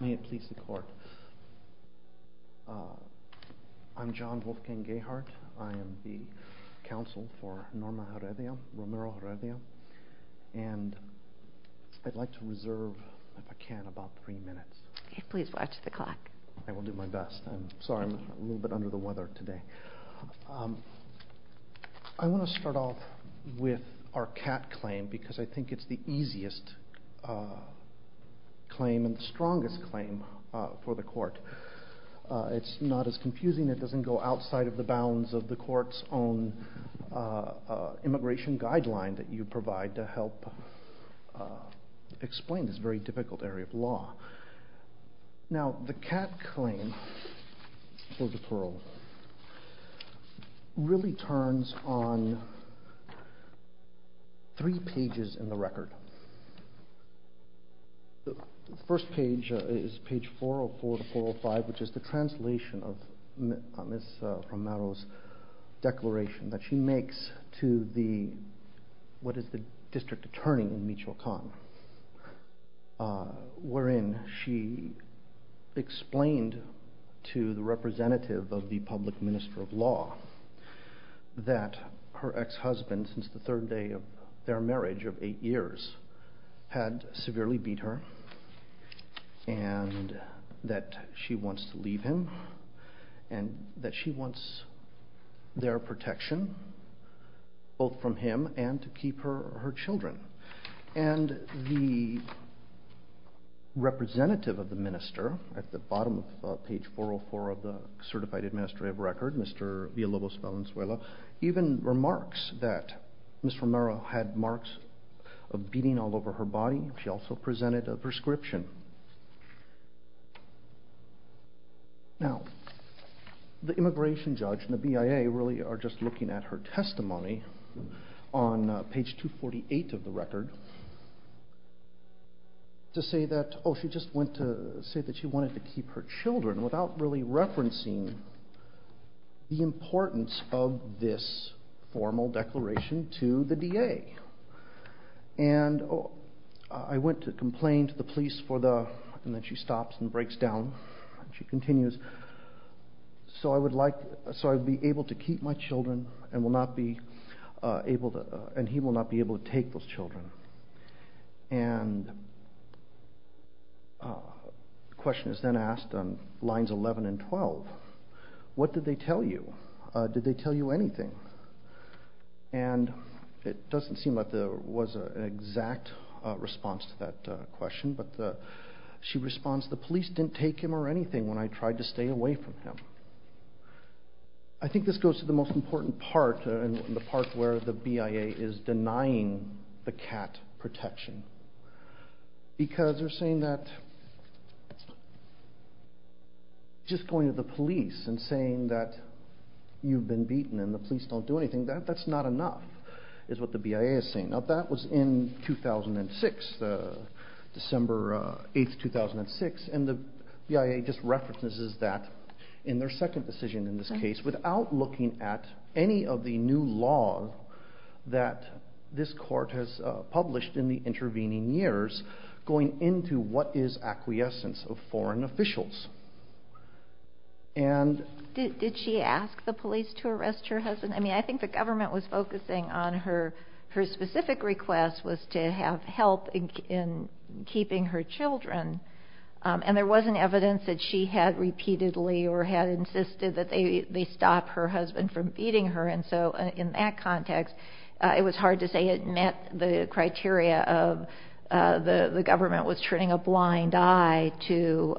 May it please the court. I'm John Wolfgang Gehart. I am the counsel for Norma Heredia, Romero-Heredia, and I'd like to reserve, if I can, about three minutes. Please watch the clock. I will do my best. I'm sorry I'm a little bit under the weather today. I want to start off with our cat claim because I think it's the easiest claim and the strongest claim for the court. It's not as confusing. It doesn't go outside of the bounds of the court's own immigration guideline that you provide to help explain this very difficult area of law. Now, the cat claim for deferral really turns on three pages in the record. The first page is page 404-405, which is the translation of Ms. Romero's declaration that she makes to what is the district attorney in Michoacan, wherein she explained to the representative of the public minister of law that her ex-husband, since the third day of their marriage of eight years, had severely beat her and that she wants to leave him and that she wants their The representative of the minister, at the bottom of page 404 of the Certified Administrative Record, Mr. Villalobos Valenzuela, even remarks that Ms. Romero had marks of beating all over her body. She also presented a prescription. Now, the immigration judge and the BIA really are just looking at her testimony on page 248 of the record to say that, oh, she just went to say that she wanted to keep her children without really referencing the importance of this formal declaration to the DA. And I went to complain to the police for the, and then she stops and breaks down. She continues, so I would like, so I'd be able to keep my children and will not be able to, and he will not be able to take those children. And the question is then asked on lines 11 and 12, what did they tell you? Did they tell you anything? And it doesn't seem like there was an exact response to that question, but she responds, the police didn't take him or threatened him. I think this goes to the most important part and the part where the BIA is denying the cat protection. Because they're saying that just going to the police and saying that you've been beaten and the police don't do anything, that's not enough, is what the BIA is saying. Now, that was in 2006, December 8th, 2006, and the BIA just references that in their second decision in this case without looking at any of the new law that this court has published in the intervening years going into what is acquiescence of foreign officials. Did she ask the police to arrest her husband? I mean, I think the government was focusing on her, her specific request was to have help in keeping her children. And there wasn't evidence that she had repeatedly or had insisted that they stop her husband from beating her. And so in that context, it was hard to say it met the criteria of the government was turning a blind eye to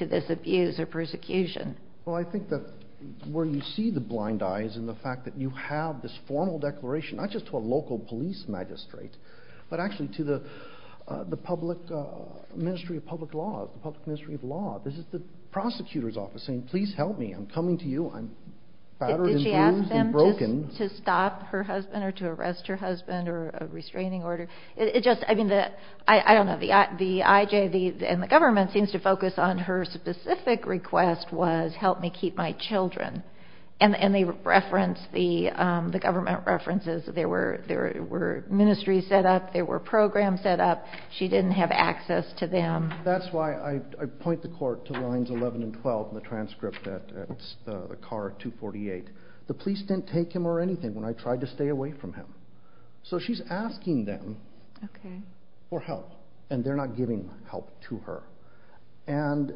this abuse or persecution. Well, I think that where you see the blind eyes and the fact that you have this formal declaration, not just to a the public ministry of public laws, the public ministry of law, this is the prosecutor's office saying, please help me, I'm coming to you, I'm battered and bruised and broken. Did she ask them to stop her husband or to arrest her husband or a restraining order? It just, I mean, the, I don't know, the IJ and the government seems to focus on her specific request was help me keep my children. And they reference the government references, there were ministries set up, there were programs set up, she didn't have access to them. That's why I point the court to lines 11 and 12, the transcript that the car 248, the police didn't take him or anything when I tried to stay away from him. So she's asking them for help, and they're not giving help to her. And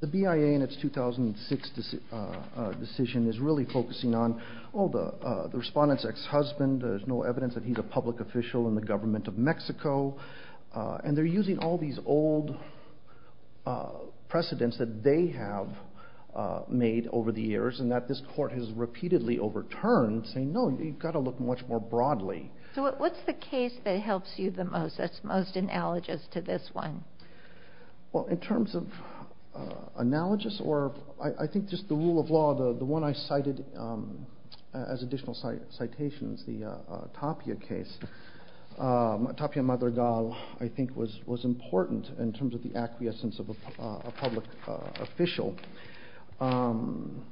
the BIA in its 2006 decision is really focusing on all the respondents ex evidence that he's a public official in the government of Mexico. And they're using all these old precedents that they have made over the years and that this court has repeatedly overturned saying no, you've got to look much more broadly. So what's the case that helps you the most that's most analogous to this one? Well, in terms of analogous, or I think just the rule of law, the one I cited as Tapia case, Tapia Madrigal, I think was was important in terms of the acquiescence of a public official. And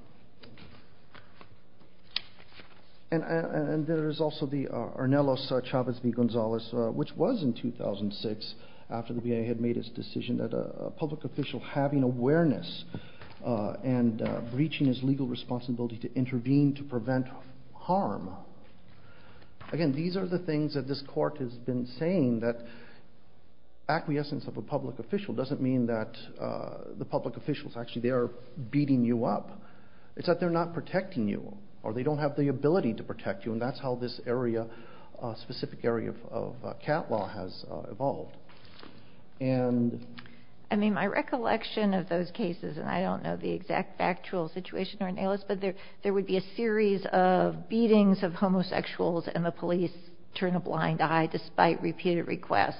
there is also the Arnelos Chavez V. Gonzalez, which was in 2006, after the BIA had made his decision that a public official having awareness and breaching his legal responsibility to intervene to These are the things that this court has been saying that acquiescence of a public official doesn't mean that the public officials actually they're beating you up. It's that they're not protecting you, or they don't have the ability to protect you. And that's how this area, specific area of cat law has evolved. And, I mean, my recollection of those cases, and I don't know the exact factual situation or analysis, but there, there would be a series of beatings of homosexuals and the police turn a blind eye despite repeated requests.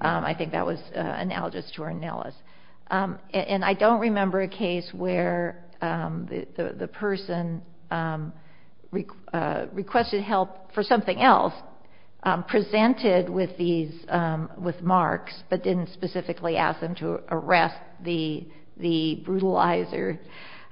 I think that was analogous to Arnelos. And I don't remember a case where the, the person requested help for something else, presented with these, with marks, but didn't specifically ask them to arrest the, the brutalizer.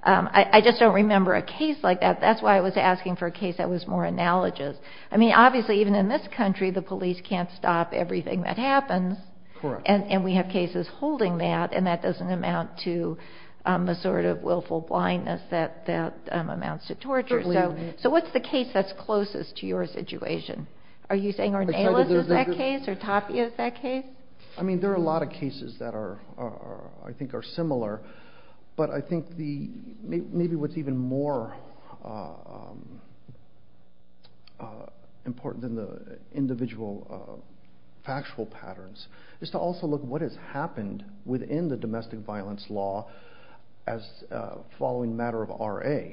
I, I just don't remember a case like that. That's why I was asking for a case that was more analogous. I mean, obviously, even in this country, the police can't stop everything that happens. Correct. And, and we have cases holding that, and that doesn't amount to a sort of willful blindness that, that amounts to torture. Certainly. So, so what's the case that's closest to your situation? Are you saying Arnelos is that case, or Tapia is that case? I mean, there are a lot of cases that are, are, I think are similar. But I think the, maybe, maybe what's even more important than the individual factual patterns is to also look what has happened within the domestic violence law as following matter of RA.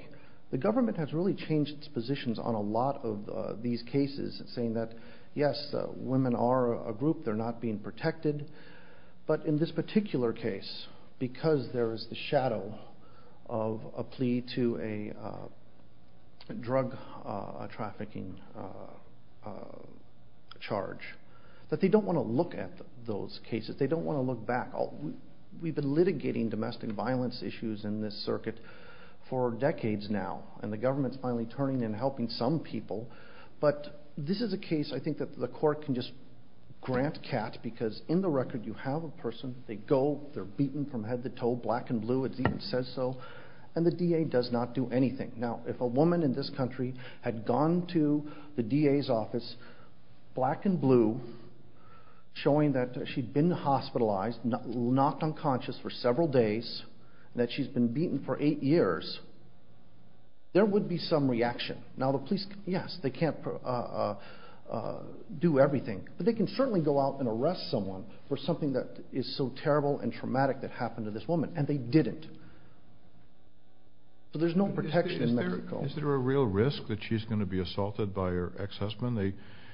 The government has really changed its positions on a lot of these cases, saying that, yes, women are a group, they're not being protected. But in this particular case, because there is the shadow of a plea to a drug trafficking charge, that they don't want to look at those cases. They don't want to look back. We've been litigating domestic violence issues in this circuit for decades now. And the government's finally turning and helping some people. But this is a case, I think, that the court can just grant cat, because in the record, you have a they're beaten from head to toe, black and blue, it even says so. And the DA does not do anything. Now, if a woman in this country had gone to the DA's office, black and blue, showing that she'd been hospitalized, knocked unconscious for several days, and that she's been beaten for eight years, there would be some reaction. Now, the police, yes, they can't do everything. But they can certainly go out and arrest someone for something that is so terrible and traumatic that happened to this woman. And they didn't. So there's no protection in Mexico. Is there a real risk that she's going to be assaulted by her ex-husband?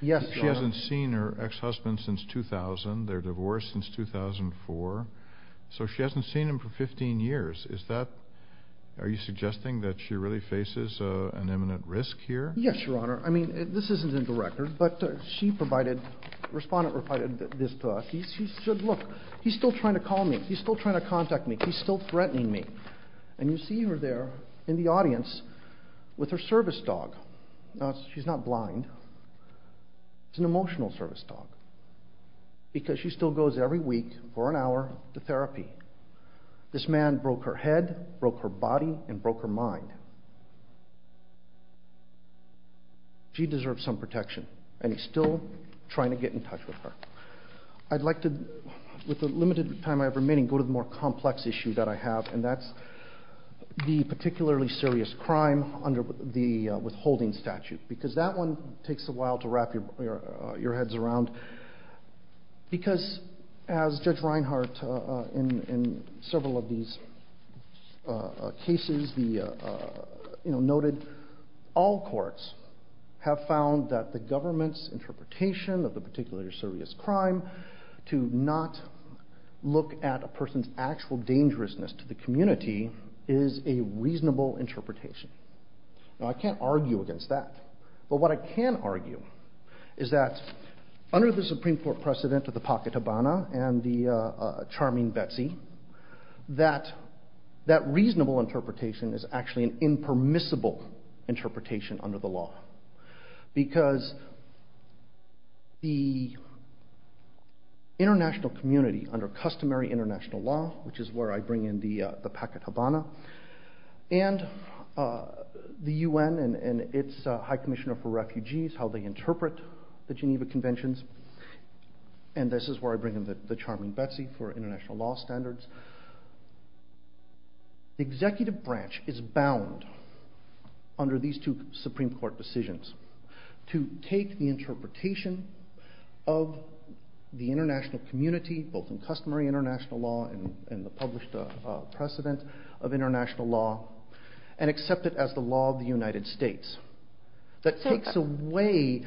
Yes, Your Honor. She hasn't seen her ex-husband since 2000, they're divorced since 2004, so she hasn't seen him for 15 years. Is that, are you suggesting that she really faces an imminent risk here? Yes, Your Honor. I mean, this isn't in the record, but she provided, the she's still trying to contact me. She's still threatening me. And you see her there in the audience with her service dog. Now, she's not blind. It's an emotional service dog. Because she still goes every week, for an hour, to therapy. This man broke her head, broke her body, and broke her mind. She deserves some protection. And he's still trying to get in touch with her. I'd like to, with the remaining, go to the more complex issue that I have. And that's the particularly serious crime under the withholding statute. Because that one takes a while to wrap your heads around. Because, as Judge Reinhart, in several of these cases, noted, all courts have found that the government's interpretation of the particularly serious crime, to not look at a person's actual dangerousness to the community, is a reasonable interpretation. Now, I can't argue against that. But what I can argue is that, under the Supreme Court precedent of the pocket habana and the charming Betsy, that reasonable interpretation is actually an impermissible interpretation under the law. Because the international community, under customary international law, which is where I bring in the pocket habana, and the UN and its High Commissioner for Refugees, how they interpret the Geneva Conventions, and this is where I bring in the charming Betsy for international law standards. The Supreme Court decisions. To take the interpretation of the international community, both in customary international law and the published precedent of international law, and accept it as the law of the United States. That takes away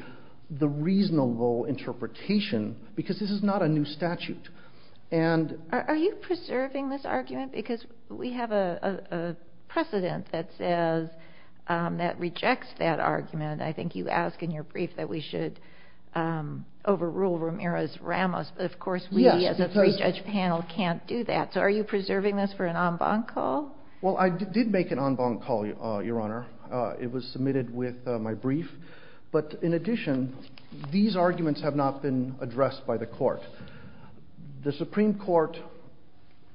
the reasonable interpretation, because this is not a new statute. And- Are you preserving this argument? Because we have a precedent that says, that if the Supreme Court rejects that argument, I think you ask in your brief that we should overrule Ramirez-Ramos. But of course, we as a pre-judge panel can't do that. So are you preserving this for an en banc call? Well, I did make an en banc call, Your Honor. It was submitted with my brief. But in addition, these arguments have not been addressed by the Court. The Supreme Court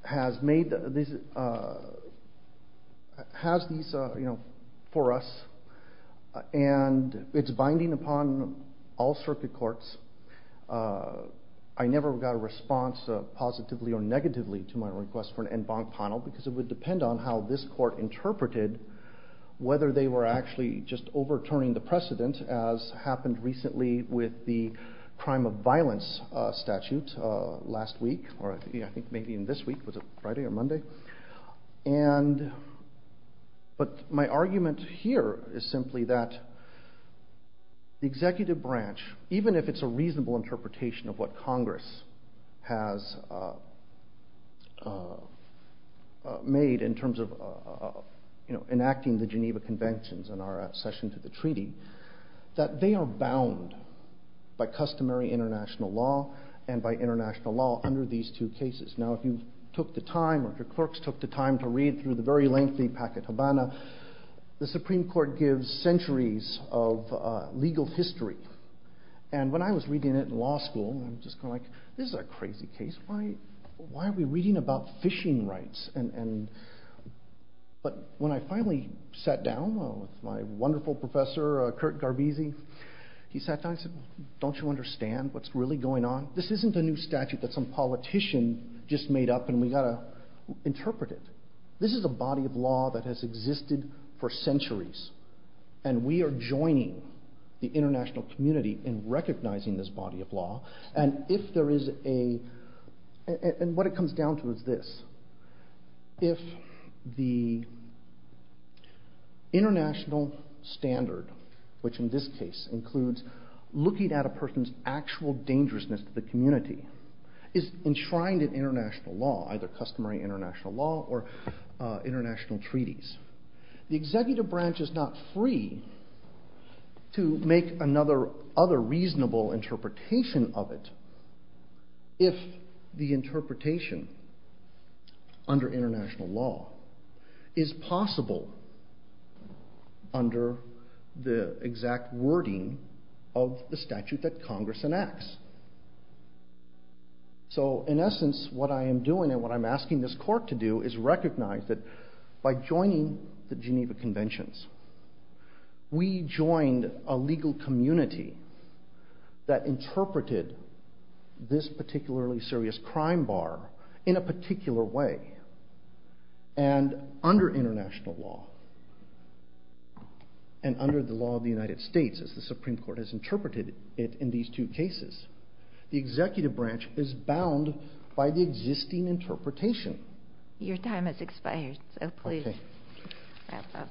has not. And it's binding upon all circuit courts. I never got a response positively or negatively to my request for an en banc panel, because it would depend on how this Court interpreted whether they were actually just overturning the precedent, as happened recently with the crime of violence statute last week, or I think maybe in this week. Was it Friday or Monday? And- But my argument here is simply that the executive branch, even if it's a reasonable interpretation of what Congress has made in terms of enacting the Geneva Conventions in our session to the treaty, that they are bound by customary international law and by international law under these two cases. Now, if you took the time or if your clerks took the time to read the very lengthy Packett-Habana, the Supreme Court gives centuries of legal history. And when I was reading it in law school, I'm just kind of like, this is a crazy case. Why are we reading about fishing rights? But when I finally sat down with my wonderful professor, Kurt Garbisi, he sat down and said, don't you understand what's really going on? This isn't a new statute that some politician just made up and we ought to interpret it. This is a body of law that has existed for centuries and we are joining the international community in recognizing this body of law. And if there is a- and what it comes down to is this. If the international standard, which in this case includes looking at a person's actual dangerousness to the community, is enshrined in international law, either customary international law or international treaties, the executive branch is not free to make another reasonable interpretation of it if the interpretation under international law is possible under the exact wording of the statute that Congress enacts. So in essence, what I am doing and what I'm asking this court to do is recognize that by joining the Geneva Conventions, we joined a legal community that interpreted this particularly serious crime bar in a particular way. And under international law and under the law of the United States as the Supreme Court has in these two cases, the executive branch is bound by the existing interpretation. Your time has expired, so please wrap up.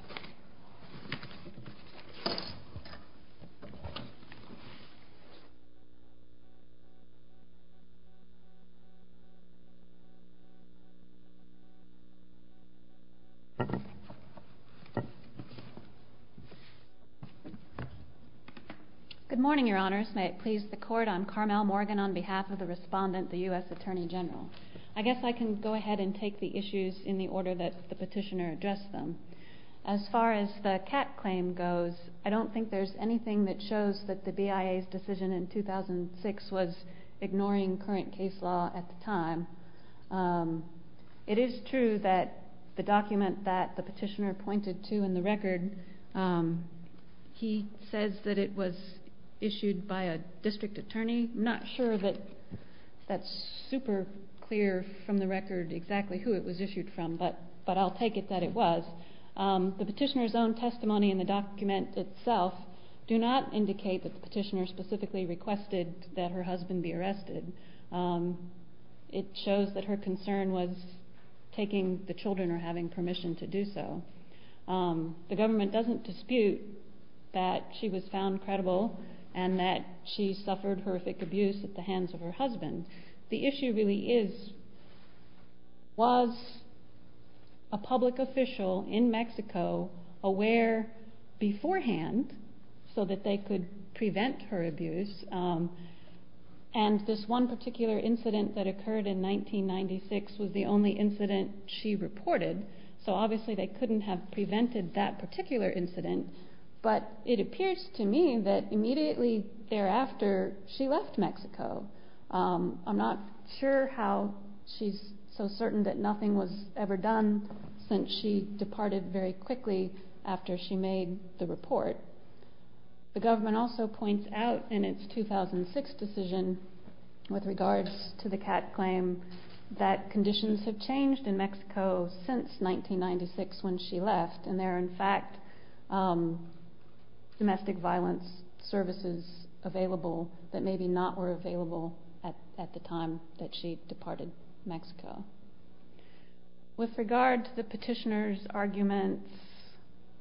Good morning, Your Honors. May it please the Court, I'm Carmel Morgan on behalf of the respondent, the U.S. Attorney General. I guess I can go ahead and take the issues in the order that the petitioner addressed them. As far as the Catt claim goes, I don't think there's anything that shows that the BIA's decision in 2006 was ignoring current case law at the time. It is true that the document that the petitioner pointed to in the record, he says that it was issued by a district attorney. I'm not sure that that's super clear from the record exactly who it was issued from, but I'll take it that it was. The petitioner's own testimony in the document itself do not indicate that the petitioner specifically requested that her husband be arrested. It shows that her concern was taking the children or having permission to do so. The government doesn't dispute that she was found credible and that she suffered horrific abuse at the hands of her husband. The issue really is, was a public official in Mexico aware beforehand so that they could prevent her abuse? This one particular incident that occurred in 1996 was the only incident she reported, so obviously they couldn't have prevented that particular incident, but it appears to me that immediately thereafter she left Mexico. I'm not sure how she's so certain that nothing was ever done since she departed very quickly after she made the report. The government also points out in its 2006 decision with regards to the Catt claim that conditions have changed in Mexico since 1996 when she left, and there are in fact domestic violence services available that maybe not were available at the time that she departed Mexico. With regard to the petitioner's arguments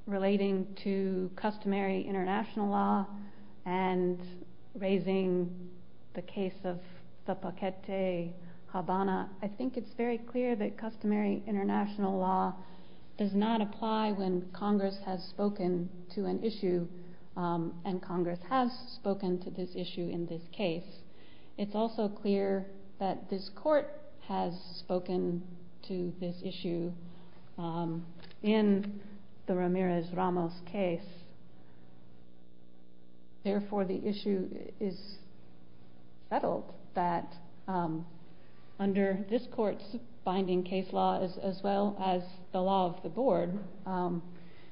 relating to customary international law and raising the case of the Ramirez-Ramos case, it's very clear that customary international law does not apply when Congress has spoken to an issue, and Congress has spoken to this issue in this case. It's also clear that this court has spoken to this issue in the Ramirez-Ramos case, therefore the issue is settled that under this court's binding case law as well as the law of the board,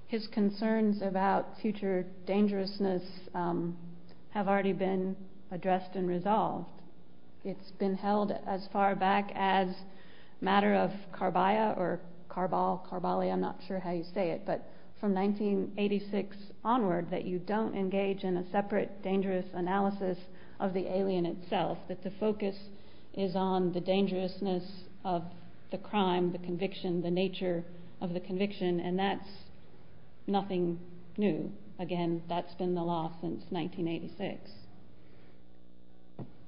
his concerns about future dangerousness have already been addressed and resolved. It's been held as far back as matter of Carballa, I'm not sure how you say it, but from 1986 onward that you don't engage in a separate dangerous analysis of the alien itself, that the focus is on the dangerousness of the crime, the conviction, the nature of the conviction, and that's nothing new. Again, that's been the law since 1986.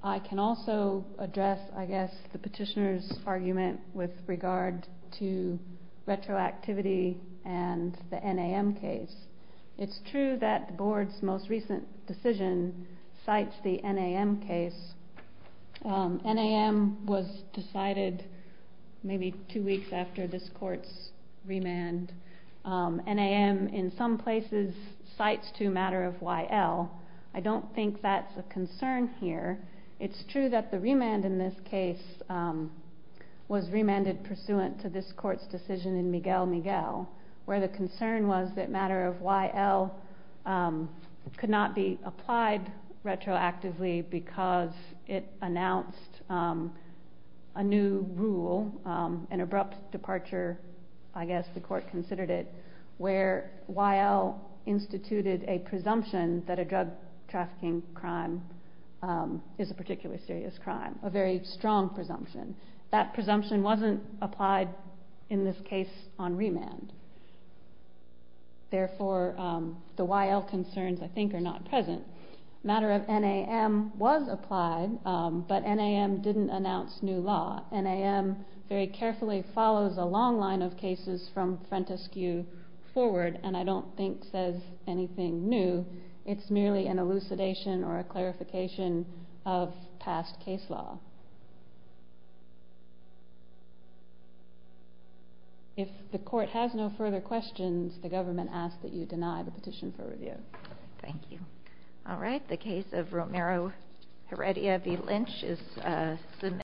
I can also address, I guess, the petitioner's argument with regard to retroactivity and the NAM case. It's true that the board's most recent decision cites the NAM case. NAM was decided maybe two weeks after this court's remand. NAM in some places cites to matter of YL. I don't think that's a concern here. It's true that the remand in this case was remanded pursuant to this court's decision in Miguel Miguel, where the concern was that matter of YL could not be applied retroactively because it announced a new rule, an abrupt departure, I guess the court considered it, where YL instituted a presumption that a drug trafficking crime is a particularly serious crime, a very strong presumption. That presumption wasn't applied in this case on remand. Therefore, the YL concerns, I think, are not present. Matter of NAM was applied, but NAM didn't announce new law. NAM very carefully follows a long line of cases from Frentescue forward, and I don't think says anything new. It's merely an elucidation or a clarification of past case law. If the court has no further questions, the government asks that you deny the petition for review. Thank you.